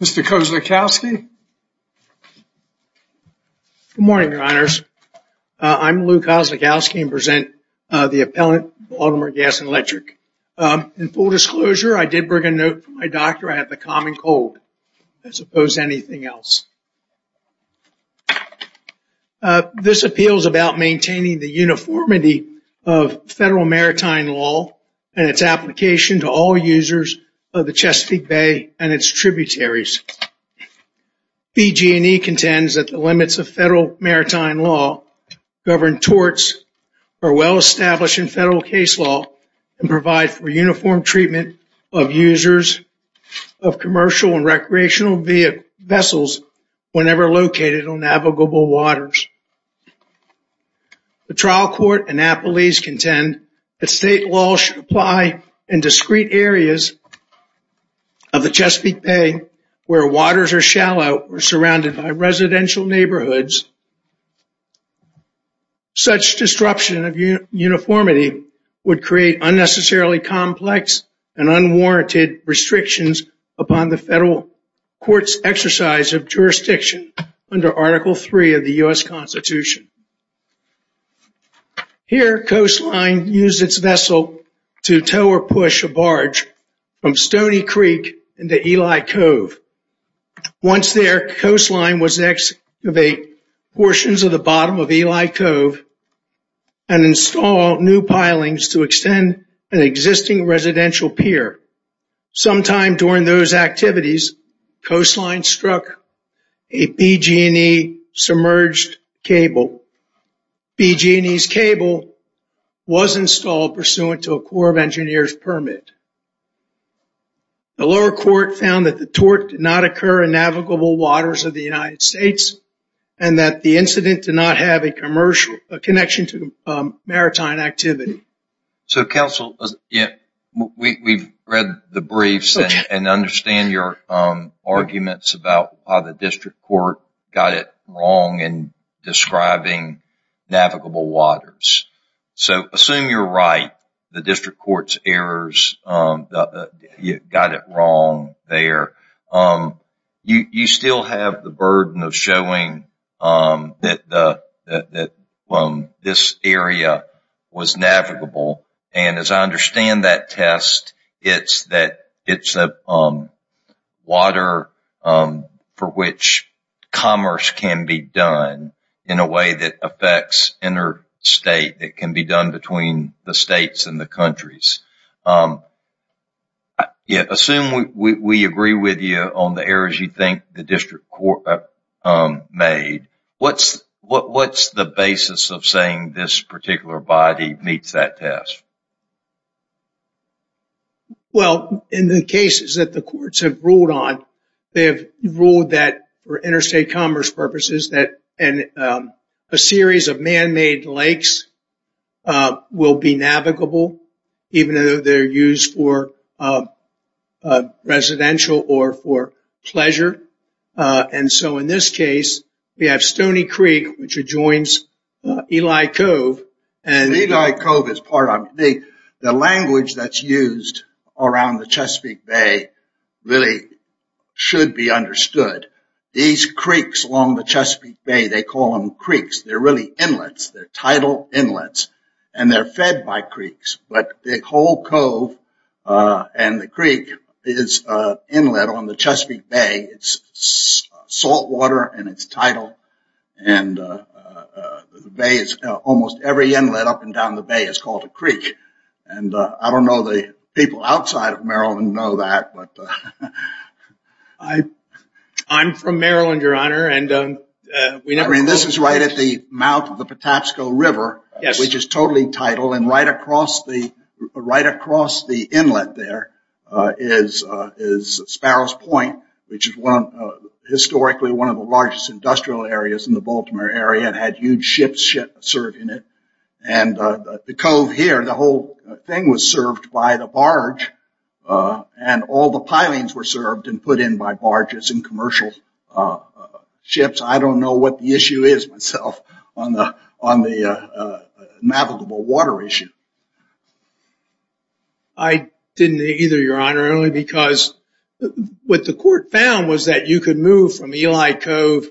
Mr. Kozlikowski. Good morning, your honors. I'm Lou Kozlikowski and present the appellant Baltimore Gas and Electric. In full disclosure, I did bring a note from my doctor. I have the common cold as opposed to anything else. This appeal is about maintaining the uniformity of federal maritime law and its application to all users of the Chesapeake Bay and its tributaries. BG&E contends that the limits of federal maritime law govern torts are well established in federal case law and provide for uniform treatment of users of commercial and recreational vessels whenever located on navigable waters. The trial court and appellees contend that state law should apply in discrete areas of the Chesapeake Bay where waters are shallow or surrounded by residential neighborhoods. Such disruption of uniformity would create unnecessarily complex and unwarranted restrictions upon the federal court's exercise of Here, Coastline used its vessel to tow or push a barge from Stony Creek into Eli Cove. Once there, Coastline was to excavate portions of the bottom of Eli Cove and install new pilings to extend an existing residential pier. Sometime was installed pursuant to a Corps of Engineers permit. The lower court found that the tort did not occur in navigable waters of the United States and that the incident did not have a commercial connection to maritime activity. So counsel, we've read the briefs and understand your arguments about how the So assume you're right, the district court's errors, you got it wrong there. You still have the burden of showing that this area was navigable and as I understand that test, it's that it's a water for which commerce can be done in a way that affects interstate, that can be done between the states and the countries. Yeah, assume we agree with you on the errors you think the district court made. What's the basis of saying this particular body meets that test? Well, in the cases that the courts have ruled on, they have ruled that for a series of man-made lakes will be navigable, even though they're used for residential or for pleasure. And so in this case, we have Stony Creek, which adjoins Eli Cove. And Eli Cove is part of the language that's used around the Chesapeake Bay really should be understood. These creeks along the Chesapeake Bay, they call them creeks. They're really inlets. They're tidal inlets and they're fed by creeks. But the whole cove and the creek is inlet on the Chesapeake Bay. It's saltwater and it's tidal. And the bay is almost every inlet up and down the bay is called a creek. And I don't know the people outside of Maryland know that. I'm from Maryland, Your Honor. I mean, this is right at the mouth of the Patapsco River, which is totally tidal. And right across the inlet there is Sparrows Point, which is historically one of the largest industrial areas in the Baltimore area. It had huge ships serving it. And the cove here, the whole thing was served by the barge and all the pilings were served and put in by barges and commercial ships. I don't know what the issue is myself on the navigable water issue. I didn't either, Your Honor, only because what the court found was that you could move from Eli Cove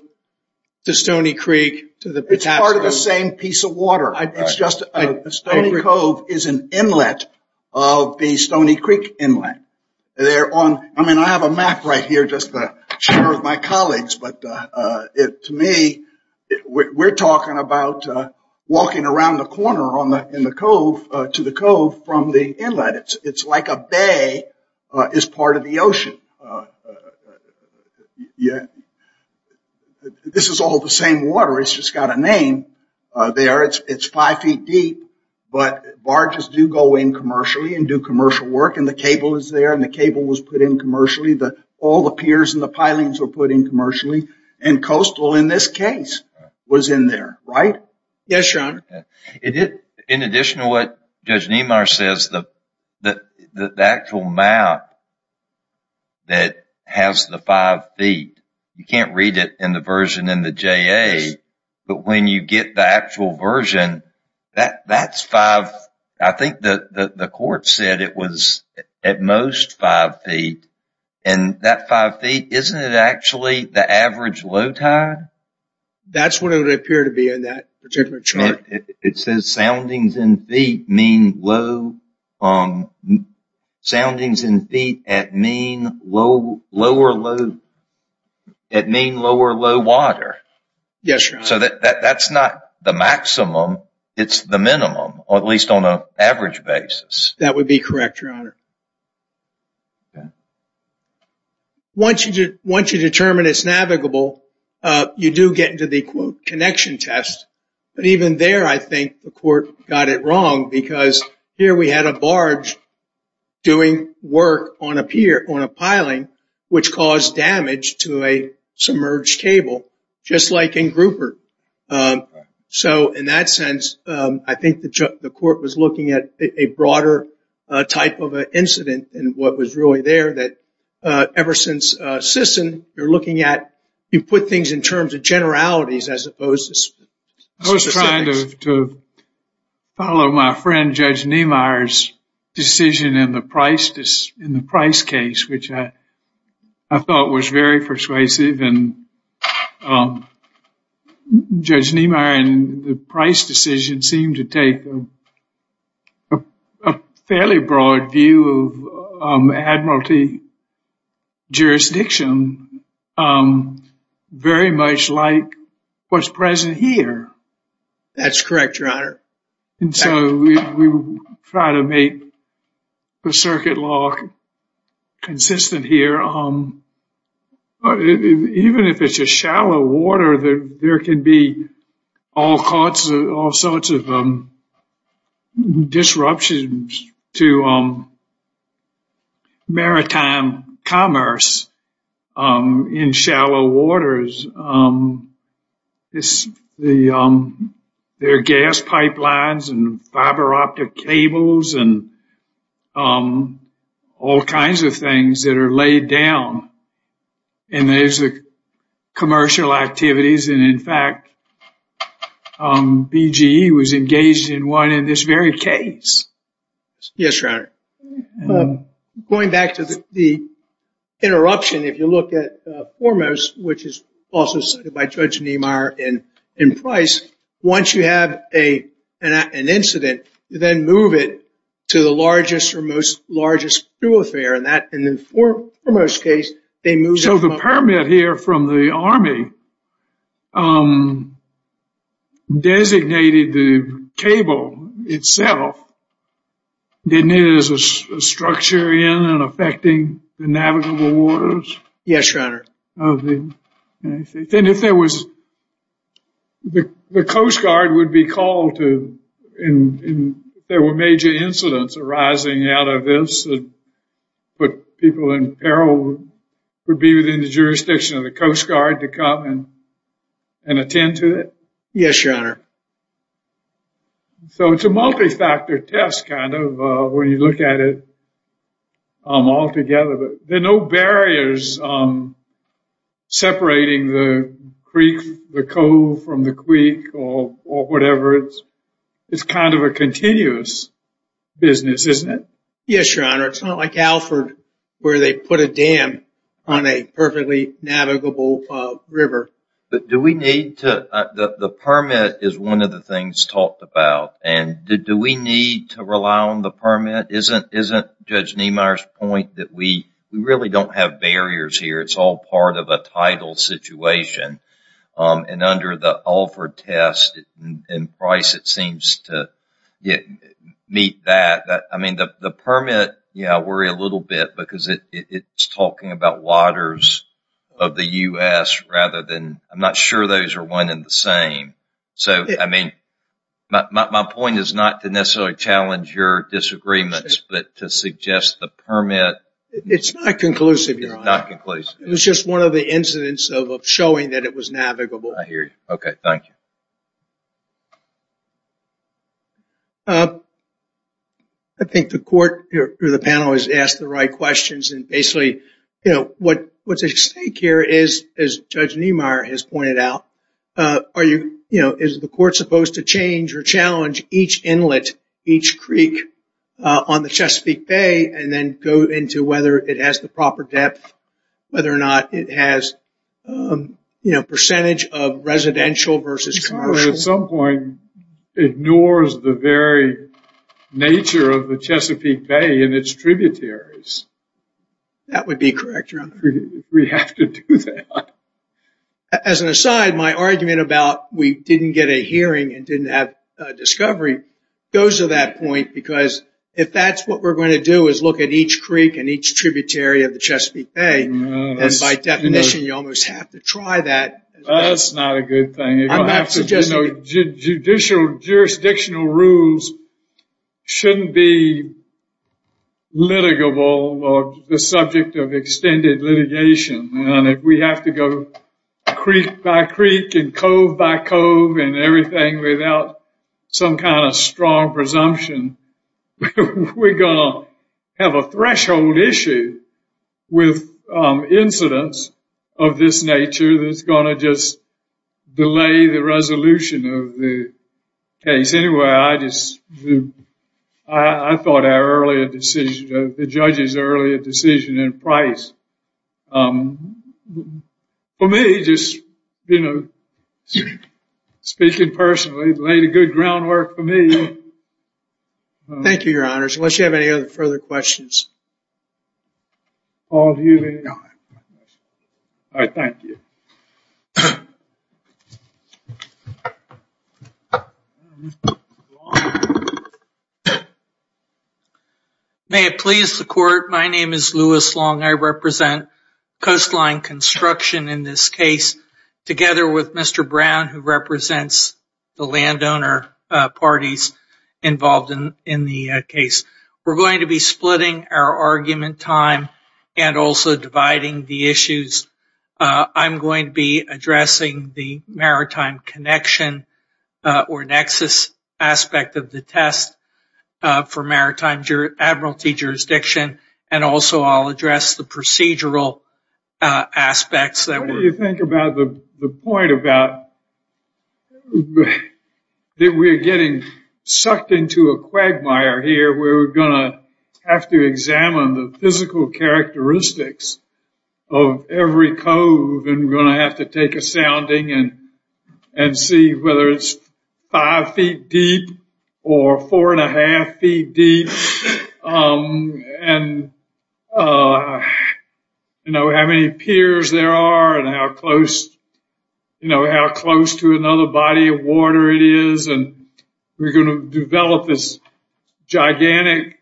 to Stoney Creek to the Patapsco. It's part of the same piece of water. Stoney Cove is an inlet of the Stoney I mean, I have a map right here just to share with my colleagues, but to me, we're talking about walking around the corner in the cove to the cove from the inlet. It's like a bay is part of the ocean. This is all the same water. It's just got a name there. It's five feet deep. But barges do go in commercially and do commercial work. And the cable is there and the cable was put in commercially. All the piers and the pilings were put in commercially. And coastal, in this case, was in there, right? Yes, Your Honor. In addition to what Judge Niemeyer says, the actual map that has the five feet, you can't read it in the version in the JA, but when you get the actual version, that's five, I think the court said it was at most five feet. And that five feet, isn't it actually the average low tide? That's what it would appear to be in that particular chart. It says soundings in feet mean low soundings in feet at mean lower low water. Yes, Your Honor. So that's not the maximum, it's the minimum, or at least on an average basis. That would be correct, Your Honor. Once you determine it's navigable, you do get into the connection test. But even there, I think the court got it wrong because here we had a barge doing work on a piling which caused damage to a submerged cable, just like in Grouper. So in that sense, I think the court was looking at a broader type of an incident and what was really there that ever since Sisson, you're looking at, you put things in terms of generalities as opposed to specifics. I was trying to follow my friend Judge Niemeyer's decision in the Price case, which I thought was very persuasive. And Judge Niemeyer in the Price decision seemed to take a fairly broad view of admiralty jurisdiction, very much like what's present here. That's correct, Your Honor. And so we try to make the circuit law consistent here. Even if it's a shallow water, there can be all sorts of disruptions to maritime commerce in shallow waters. There are gas pipelines and fiber optic cables and all kinds of things that are laid down. And there's the commercial activities. And in fact, BGE was engaged in one in this very case. Yes, Your Honor. Going back to the interruption, if you look at Foremost, which is also cited by Judge Niemeyer in Price, once you have an incident, you then move it to the largest or most largest true affair, and in the Foremost case, they move it to the largest true affair. The case that we have here from the Army designated the cable itself, didn't it as a structure in and affecting the navigable waters? Yes, Your Honor. Then if there was, the Coast Guard would be called to, and there were major incidents arising out of this, would people in peril be within the jurisdiction of the Coast Guard to come and attend to it? Yes, Your Honor. So it's a multi-factor test kind of when you look at it all together. There are no barriers separating the creek, the cove from the creek or whatever. It's kind of a continuous business, isn't it? Yes, Your Honor. It's not like Alford where they put a dam on a perfectly navigable river. But do we need to, the permit is one of the things talked about, and do we need to rely on the permit? Isn't Judge Niemeyer's point that we really don't have barriers here? It's all part of a title situation. And under the Alford test in Price, it seems to meet that. I mean, the permit, yeah, I worry a little bit because it's talking about waters of the U.S. rather than, I'm not sure those are one and the same. So, I mean, my point is not to necessarily challenge your disagreements, but to suggest the permit... It's not conclusive, Your Honor. It's not conclusive. It was just one of the incidents of showing that it was navigable. I hear you. Okay, thank you. I think the court or the panel has asked the right questions. And basically, you know, what's at stake here is, as Judge Niemeyer has pointed out, are you, you know, is the court supposed to change or challenge each inlet, each creek on the Chesapeake Bay, and then go into whether it has the proper depth, whether or not it has, you know, percentage of residential versus commercial? The court at some point ignores the very nature of the Chesapeake Bay and its tributaries. That would be correct, Your Honor. We have to do that. As an aside, my argument about we didn't get a hearing and didn't have a discovery goes to that point because if that's what we're going to do, is look at each creek and each tributary of the Chesapeake Bay, and by definition, you almost have to try that... That's not a good thing. I'm not suggesting... Judicial jurisdictional rules shouldn't be litigable or the subject of extended litigation. And if we have to go creek by creek and cove by cove and everything without some kind of strong presumption, we're going to have a threshold issue with incidents of this nature that's going to just delay the resolution of the case. Anyway, I just... I thought our earlier decision, the judge's earlier decision in Price, for me, just, you know, speaking personally, laid a good groundwork for me. Thank you, Your Honors. Unless you have any other further questions. Paul, do you have any? No, I have no questions. All right, thank you. May it please the court, my name is Louis Long. I represent Coastline Construction in this case, together with Mr. Brown, who represents the landowner parties involved in the case. We're going to be splitting our argument time and also dividing the issues. I'm going to be addressing the maritime connection or nexus aspect of the test for maritime admiralty jurisdiction. And also, I'll address the procedural aspects that were... What do you think about the point about that we're getting sucked into a quagmire here where we're going to have to examine the physical characteristics of every cove and we're going to have to take a sounding and see whether it's five feet deep or four and a half feet deep. And, you know, how many piers there are and how close, you know, how close to another body of water it is. And we're going to develop this gigantic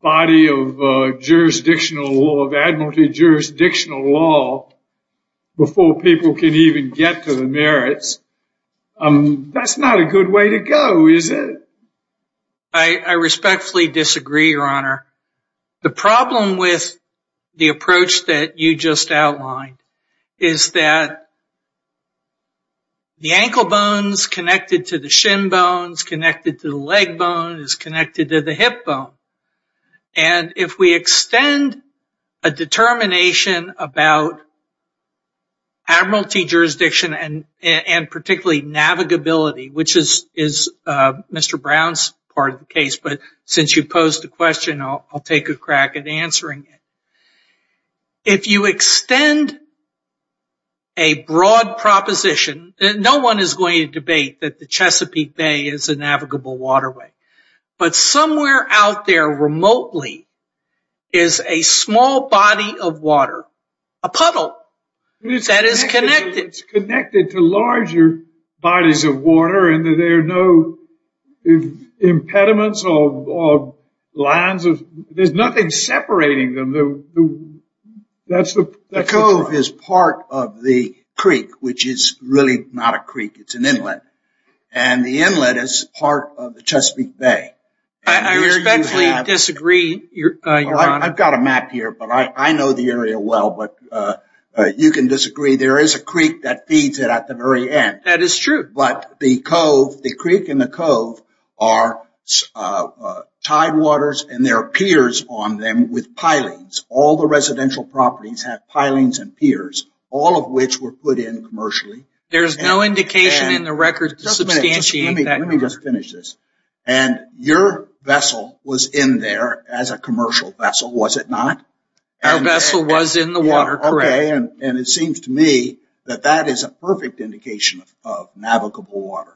body of jurisdictional law, of admiralty jurisdictional law before people can even get to the merits. That's not a good way to go, is it? I respectfully disagree, your honor. The problem with the approach that you just outlined is that the ankle bone is connected to the shin bones, connected to the leg bone, is connected to the hip bone. And if we extend a determination about admiralty jurisdiction and particularly navigability, which is Mr. Brown's part of the case, but since you posed the question, I'll take a crack at answering it. If you extend a broad proposition, no one is going to debate that the Chesapeake Bay is a navigable waterway, but somewhere out there remotely is a small body of water, a puddle that is connected. It's connected to larger bodies of water and there are no impediments or lines. There's nothing separating them. The cove is part of the creek, which is really not a creek. It's an inlet. And the inlet is part of the Chesapeake Bay. I respectfully disagree, your honor. I've got a map here, but I know the area well. But you can disagree. There is a creek that feeds it at the very end. That is true. But the cove, the creek and the cove are tide waters and there are piers on them with pilings. All the residential properties have pilings and piers, all of which were put in commercially. There's no indication in the record to substantiate that. Let me just finish this. And your vessel was in there as a commercial vessel, was it not? Our vessel was in the water, correct. And it seems to me that that is a perfect indication of navigable water.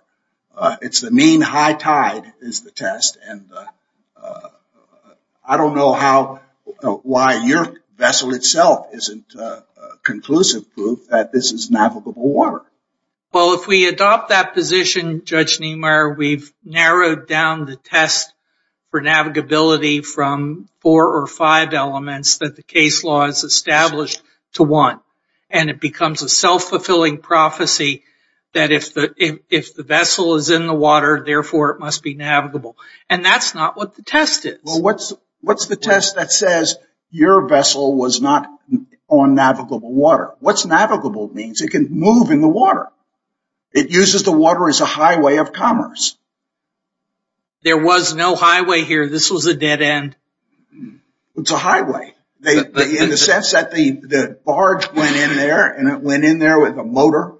It's the mean high tide is the test. And I don't know why your vessel itself isn't a conclusive proof that this is navigable water. Well, if we adopt that position, Judge Niemeyer, we've narrowed down the test for navigability from four or five elements that the case law has established to one. And it becomes a self-fulfilling prophecy that if the vessel is in the water, therefore it must be navigable. And that's not what the test is. Well, what's the test that says your vessel was not on navigable water? What's navigable means? It can move in the water. It uses the water as a highway of commerce. There was no highway here. This was a dead end. It's a highway in the sense that the barge went in there and it went in there with a motor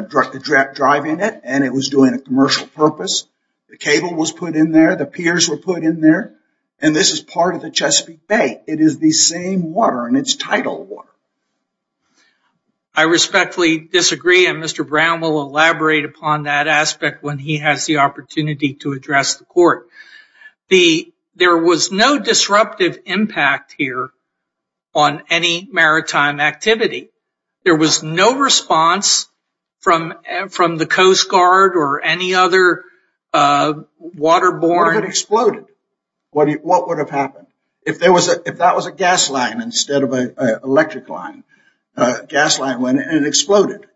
driving it. And it was doing a commercial purpose. The cable was put in there. The piers were put in there. And this is part of the Chesapeake Bay. It is the same water. And it's tidal water. I respectfully disagree. And Mr. Brown will elaborate upon that aspect when he has the opportunity to address the court. There was no disruptive impact here on any maritime activity. There was no response from the Coast Guard or any other water-borne... What if it exploded? What would have happened? If that was a gas line instead of an electric line, a gas line went in and it exploded.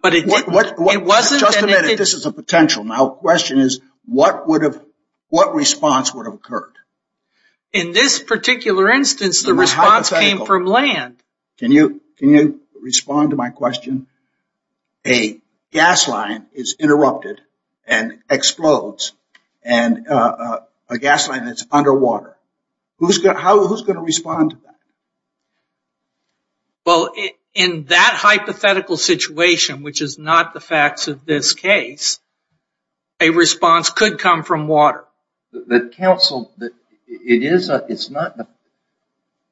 But it wasn't... Just a minute, this is a potential. Now, the question is, what response would have occurred? In this particular instance, the response came from land. Can you respond to my question? A gas line is interrupted and explodes. And a gas line that's underwater. Who's going to respond to that? Well, in that hypothetical situation, which is not the facts of this case, a response could come from water. But counsel, it's not...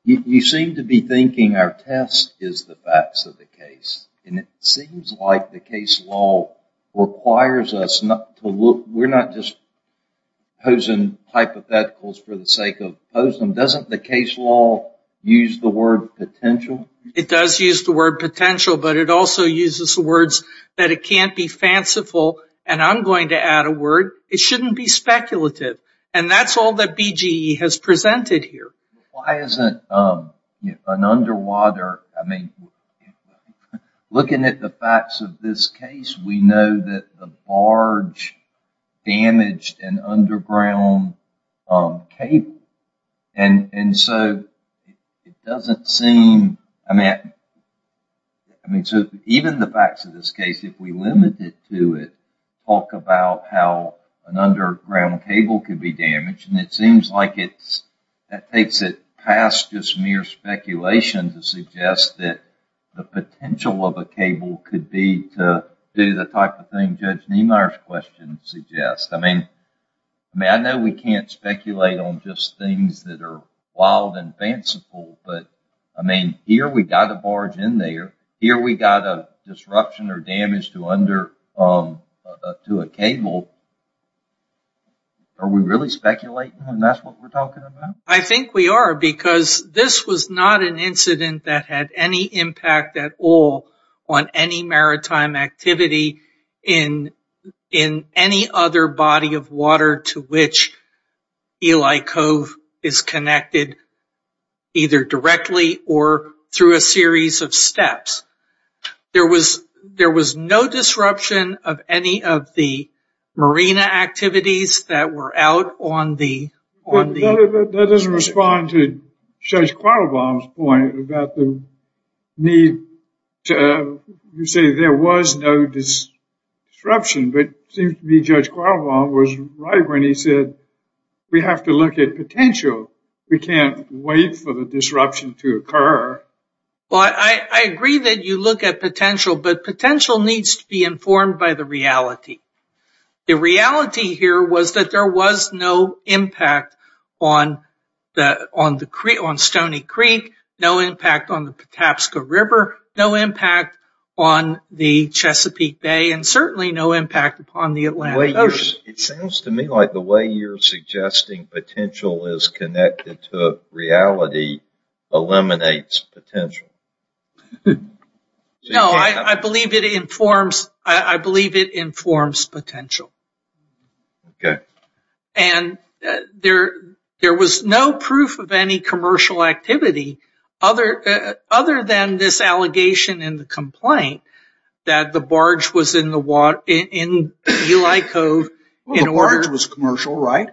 You seem to be thinking our test is the facts of the case. And it seems like the case law requires us to look... We're not just posing hypotheticals for the sake of posing them. Doesn't the case law use the word potential? It does use the word potential, but it also uses the words that it can't be fanciful. And I'm going to add a word. It shouldn't be speculative. And that's all that BGE has presented here. Why isn't an underwater... I mean, looking at the facts of this case, we know that the barge damaged an underground cable. And so, it doesn't seem... I mean, so even the facts of this case, if we limit it to it, talk about how an underground cable could be damaged. And it seems like that takes it past just mere speculation to suggest that the potential of a cable could be to do the type of thing Judge Niemeyer's question suggests. I mean, I know we can't speculate on just things that are wild and fanciful, but, I mean, here we got a barge in there. Here we got a disruption or damage to a cable. Are we really speculating and that's what we're talking about? I think we are, because this was not an incident that had any impact at all on any maritime activity in any other body of water to which Eli Cove is connected, either directly or through a series of steps. There was no disruption of any of the marina activities that were out on the... That doesn't respond to Judge Quattlebaum's point about the need to... You say there was no disruption, but it seems to me Judge Quattlebaum was right when he said, we have to look at potential. We can't wait for the disruption to occur. I agree that you look at potential, but potential needs to be informed by the reality. The reality here was that there was no impact on Stoney Creek, no impact on the Patapsco River, no impact on the Chesapeake Bay, and certainly no impact upon the Atlantic Ocean. It sounds to me like the way you're suggesting potential is connected to reality eliminates potential. No, I believe it informs potential. And there was no proof of any commercial activity other than this allegation in the complaint that the barge was in Eli Cove... The barge was commercial, right?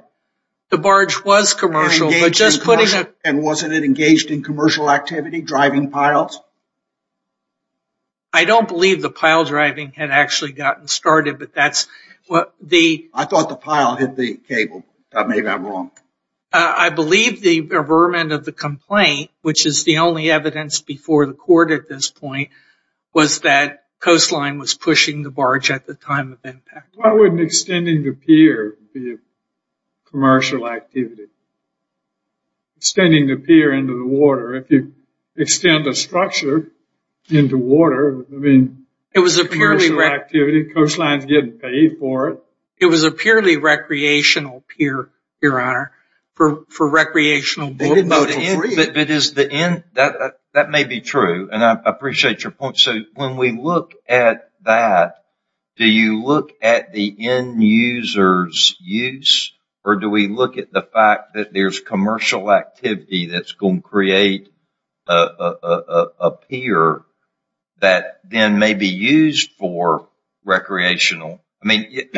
The barge was commercial, but just putting a... And wasn't it engaged in commercial activity, driving piles? I don't believe the pile driving had actually gotten started, but that's what the... I thought the pile hit the cable. Maybe I'm wrong. I believe the vermin of the complaint, which is the only evidence before the court at this point, was that Coastline was pushing the barge at the time of impact. Why wouldn't extending the pier be a commercial activity? Extending the pier into the water, if you extend a structure into water, I mean, commercial activity, Coastline's getting paid for it. It was a purely recreational pier, Your Honor, for recreational boating. But is the end... That may be true, and I appreciate your point. So when we look at that, do you look at the end user's use, or do we look at the fact that there's commercial activity that's going to create a pier that then may be used for recreational... I mean,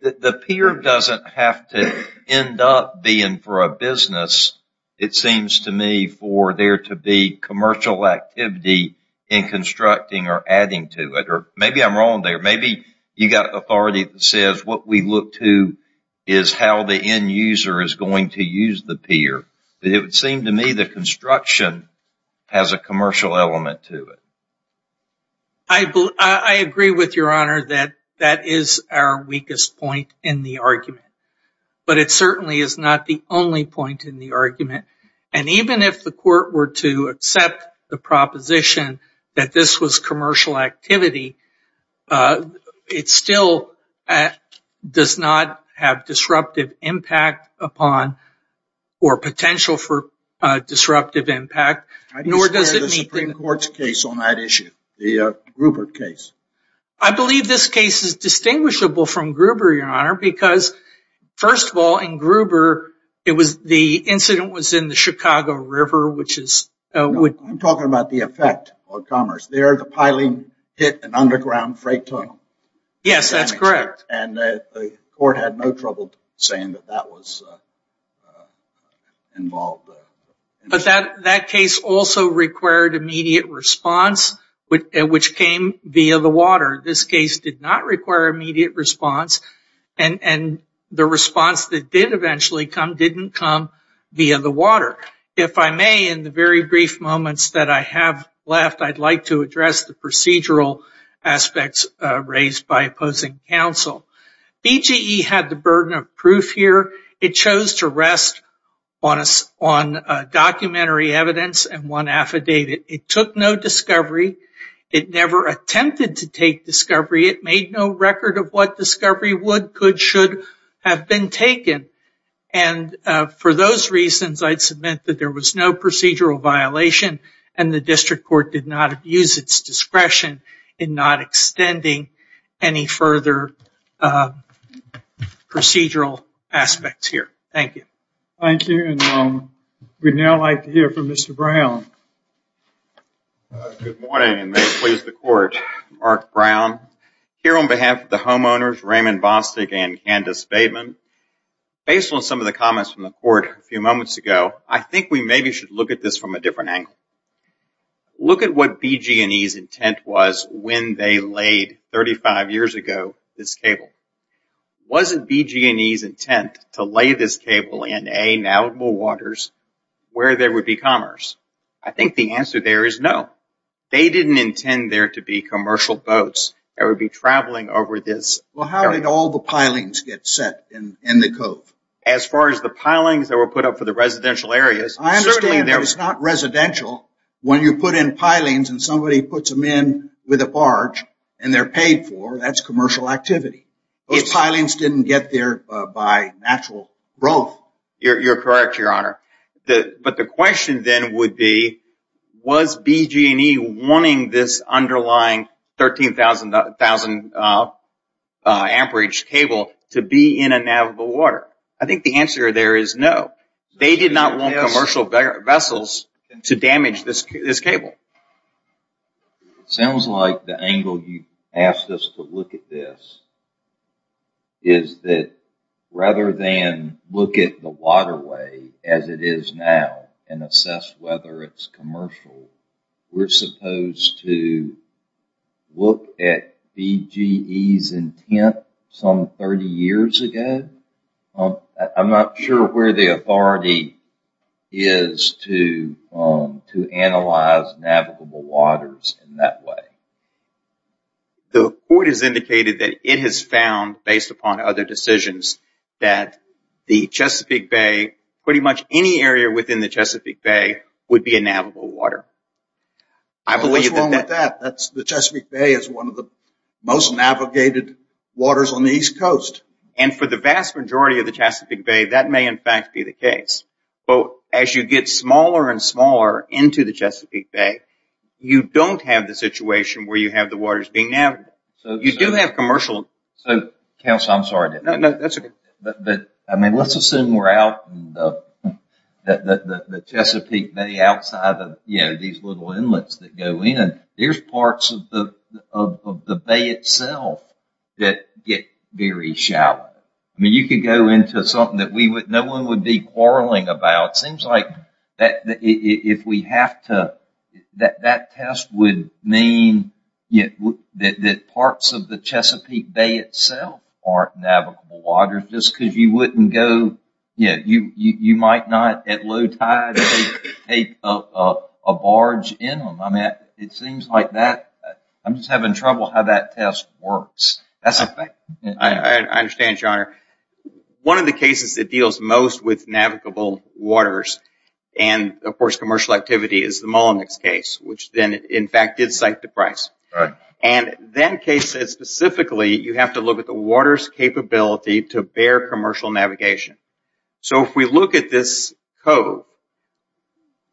the pier doesn't have to end up being for a business. It seems to me for there to be commercial activity in constructing or adding to it. Maybe I'm wrong there. Maybe you got authority that says what we look to is how the end user is going to use the pier. But it would seem to me the construction has a commercial element to it. I agree with Your Honor that that is our weakest point in the argument. But it certainly is not the only point in the argument. And even if the court were to accept the proposition that this was commercial activity, it still does not have disruptive impact upon or potential for disruptive impact, nor does it meet the... I despair the Supreme Court's case on that issue, the Gruber case. I believe this case is distinguishable from Gruber, Your Honor, because, first of all, in Gruber, the incident was in the Chicago River, which is... I'm talking about the effect on commerce. There, the piling hit an underground freight tunnel. Yes, that's correct. And the court had no trouble saying that that was involved. But that case also required immediate response, which came via the water. This case did not require immediate response. And the response that did eventually come didn't come via the water. If I may, in the very brief moments that I have left, I'd like to address the procedural aspects raised by opposing counsel. BGE had the burden of proof here. It chose to rest on documentary evidence and one affidavit. It took no discovery. It never attempted to take discovery. It made no record of what discovery would, could, should have been taken. And for those reasons, I'd submit that there was no procedural violation and the district court did not abuse its discretion in not extending any further procedural aspects here. Thank you. Thank you. And we'd now like to hear from Mr. Brown. Good morning, and may it please the court. Mark Brown, here on behalf of the homeowners, Raymond Bostic and Candace Bateman. Based on some of the comments from the court a few moments ago, I think we maybe should look at this from a different angle. Look at what BGE's intent was when they laid 35 years ago this cable. Was it BGE's intent to lay this cable in A, navigable waters, where there would be commerce? I think the answer there is no. They didn't intend there to be commercial boats that would be traveling over this. Well, how did all the pilings get set in the cove? As far as the pilings that were put up for the residential areas, certainly there was. I understand that it's not residential. When you put in pilings and somebody puts them in with a barge and they're paid for, that's commercial activity. Those pilings didn't get there by natural growth. You're correct, Your Honor. But the question then would be, was BGE wanting this underlying 13,000 amperage cable to be in a navigable water? I think the answer there is no. They did not want commercial vessels to damage this cable. Sounds like the angle you asked us to look at this is that rather than look at the waterway as it is now and assess whether it's commercial, we're supposed to look at BGE's intent some 30 years ago? I'm not sure where the authority is to analyze navigable waters in that way. The court has indicated that it has found, based upon other decisions, that the Chesapeake Bay, pretty much any area within the Chesapeake Bay, would be a navigable water. What's wrong with that? The Chesapeake Bay is one of the most navigated waters on the East Coast. And for the vast majority of the Chesapeake Bay, that may in fact be the case. But as you get smaller and smaller into the Chesapeake Bay, you don't have the situation where you have the waters being navigable. You do have commercial... Counselor, I'm sorry. No, that's okay. I mean, let's assume we're out in the Chesapeake Bay outside of these little inlets that go in. There's parts of the bay itself that get very shallow. I mean, you could go into something that no one would be quarreling about. It seems like that test would mean that parts of the waters, just because you wouldn't go... Yeah, you might not at low tide take a barge in on that. It seems like that. I'm just having trouble how that test works. I understand, your honor. One of the cases that deals most with navigable waters and of course commercial activity is the Mullinex case, which then in fact did cite the price. And that case said specifically, you have to look at the water's capability to bear commercial navigation. So if we look at this code,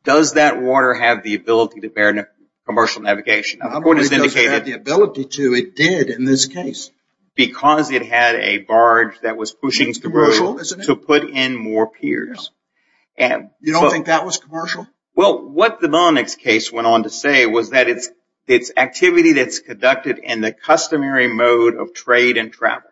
does that water have the ability to bear commercial navigation? I believe it doesn't have the ability to. It did in this case. Because it had a barge that was pushing... Commercial, isn't it? ...to put in more piers. You don't think that was commercial? Well, what the Mullinex case went on to say was that it's activity that's conducted in the customary mode of trade and travel.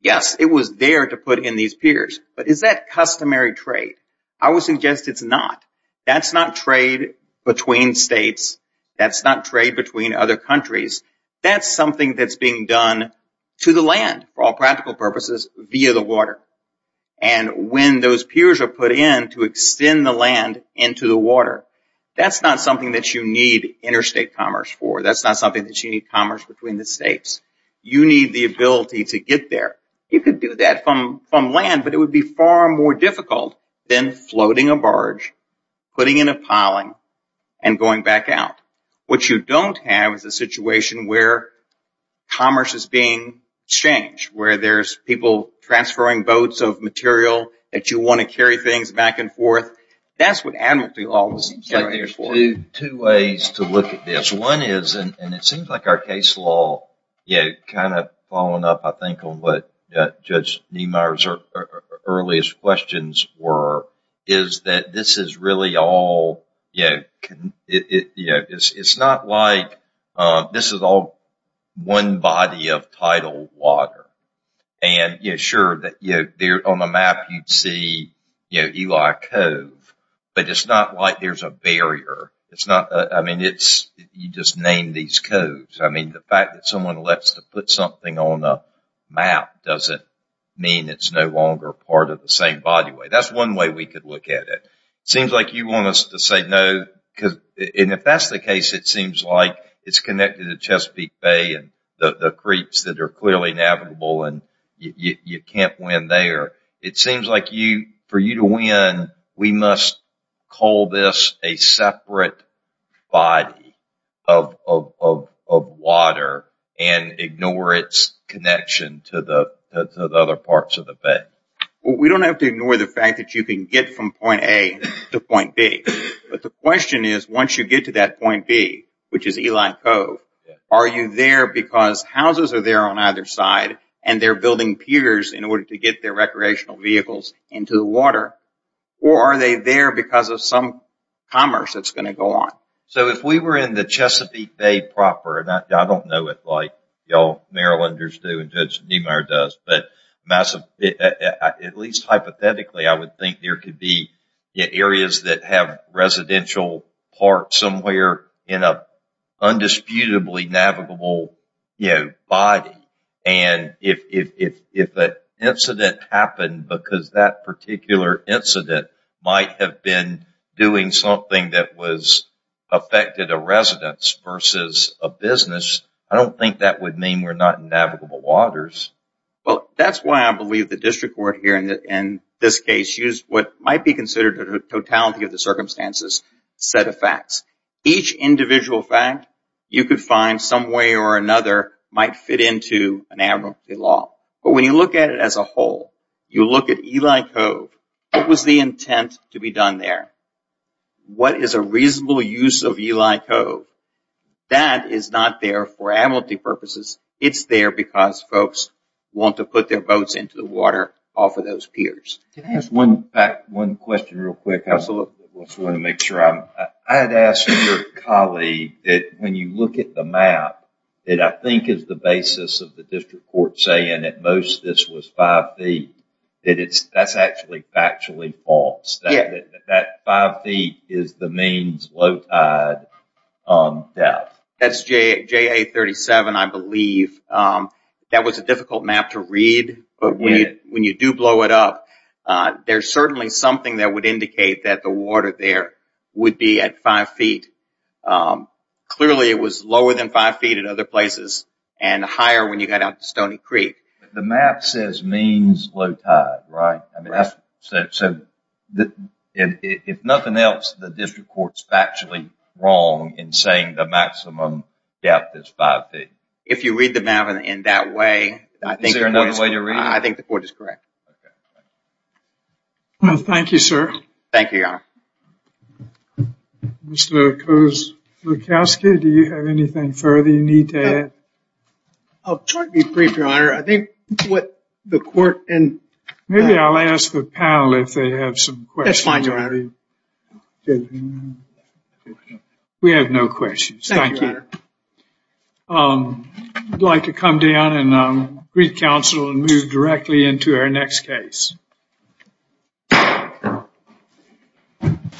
Yes, it was there to put in these piers. But is that customary trade? I would suggest it's not. That's not trade between states. That's not trade between other countries. That's something that's being done to the land for all practical purposes via the water. And when those piers are put in to extend the land into the water, that's not something that you need interstate commerce for. That's not something that you need commerce between the states. You need the ability to get there. You could do that from land, but it would be far more difficult than floating a barge, putting in a piling, and going back out. What you don't have is a situation where commerce is being exchanged, where there's people transferring boats of material that you want to carry things back and forth. That's what admiralty law was used for. Two ways to look at this. One is, and it seems like our case law, kind of following up, I think, on what Judge Niemeyer's earliest questions were, is that this is really all, it's not like this is all one body of tidal water. And sure, on the map you'd see Eli Cove, but it's not like there's a barrier. I mean, you just name these coves. The fact that someone lets to put something on a map doesn't mean it's no longer part of the same body. That's one way we could look at it. It seems like you want us to say no, and if that's the case, it seems like it's connected to Chesapeake Bay and the creeks that are clearly navigable and you can't win there. It seems like for you to win, we must call this a separate body of water and ignore its connection to the other parts of the Bay. We don't have to ignore the fact that you can get from point A to point B, but the question is, once you get to that point B, which is Eli Cove, are you there because houses are there on either side and they're building piers in order to get their recreational vehicles into the water, or are they there because of some commerce that's going to go on? So if we were in the Chesapeake Bay proper, and I don't know it like y'all Marylanders do and Judge Niemeyer does, but at least hypothetically, I would think there could be areas that have residential parks somewhere in an undisputably navigable body, and if an incident happened because that particular incident might have been doing something that was affected a residence versus a business, I don't think that would mean we're not in navigable waters. Well, that's why I believe the district court here in this case used what might be considered a totality of the circumstances set of facts. Each individual fact you could find some way or another might fit into an advocacy law, but when you look at it as a whole, you look at Eli Cove, what was the intent to be done there? What is a reasonable use of Eli Cove? That is not there for amnesty purposes. It's there because folks want to put their boats into the water off of those piers. Can I ask one question real quick? I had asked your colleague that when you look at the map, it I think is the basis of the district court saying that most this was five feet. That's actually false. That five feet is the means low tide depth. That's JA 37, I believe. That was a difficult map to read, but when you do blow it up, there's certainly something that would indicate that the water there would be at five feet. Clearly, it was lower than five feet at other places and higher when you got out to Stony Creek. The map says means low tide, right? If nothing else, the district court is factually wrong in saying the maximum depth is five feet. If you read the map in that way, I think the court is correct. Thank you, sir. Thank you, Your Honor. Mr. Kozlukowski, do you have anything further you need to add? I'll try to be brief, Your Honor. What the court and... Maybe I'll ask the panel if they have some questions. That's fine, Your Honor. We have no questions. Thank you, Your Honor. I'd like to come down and greet counsel and move directly into our next case.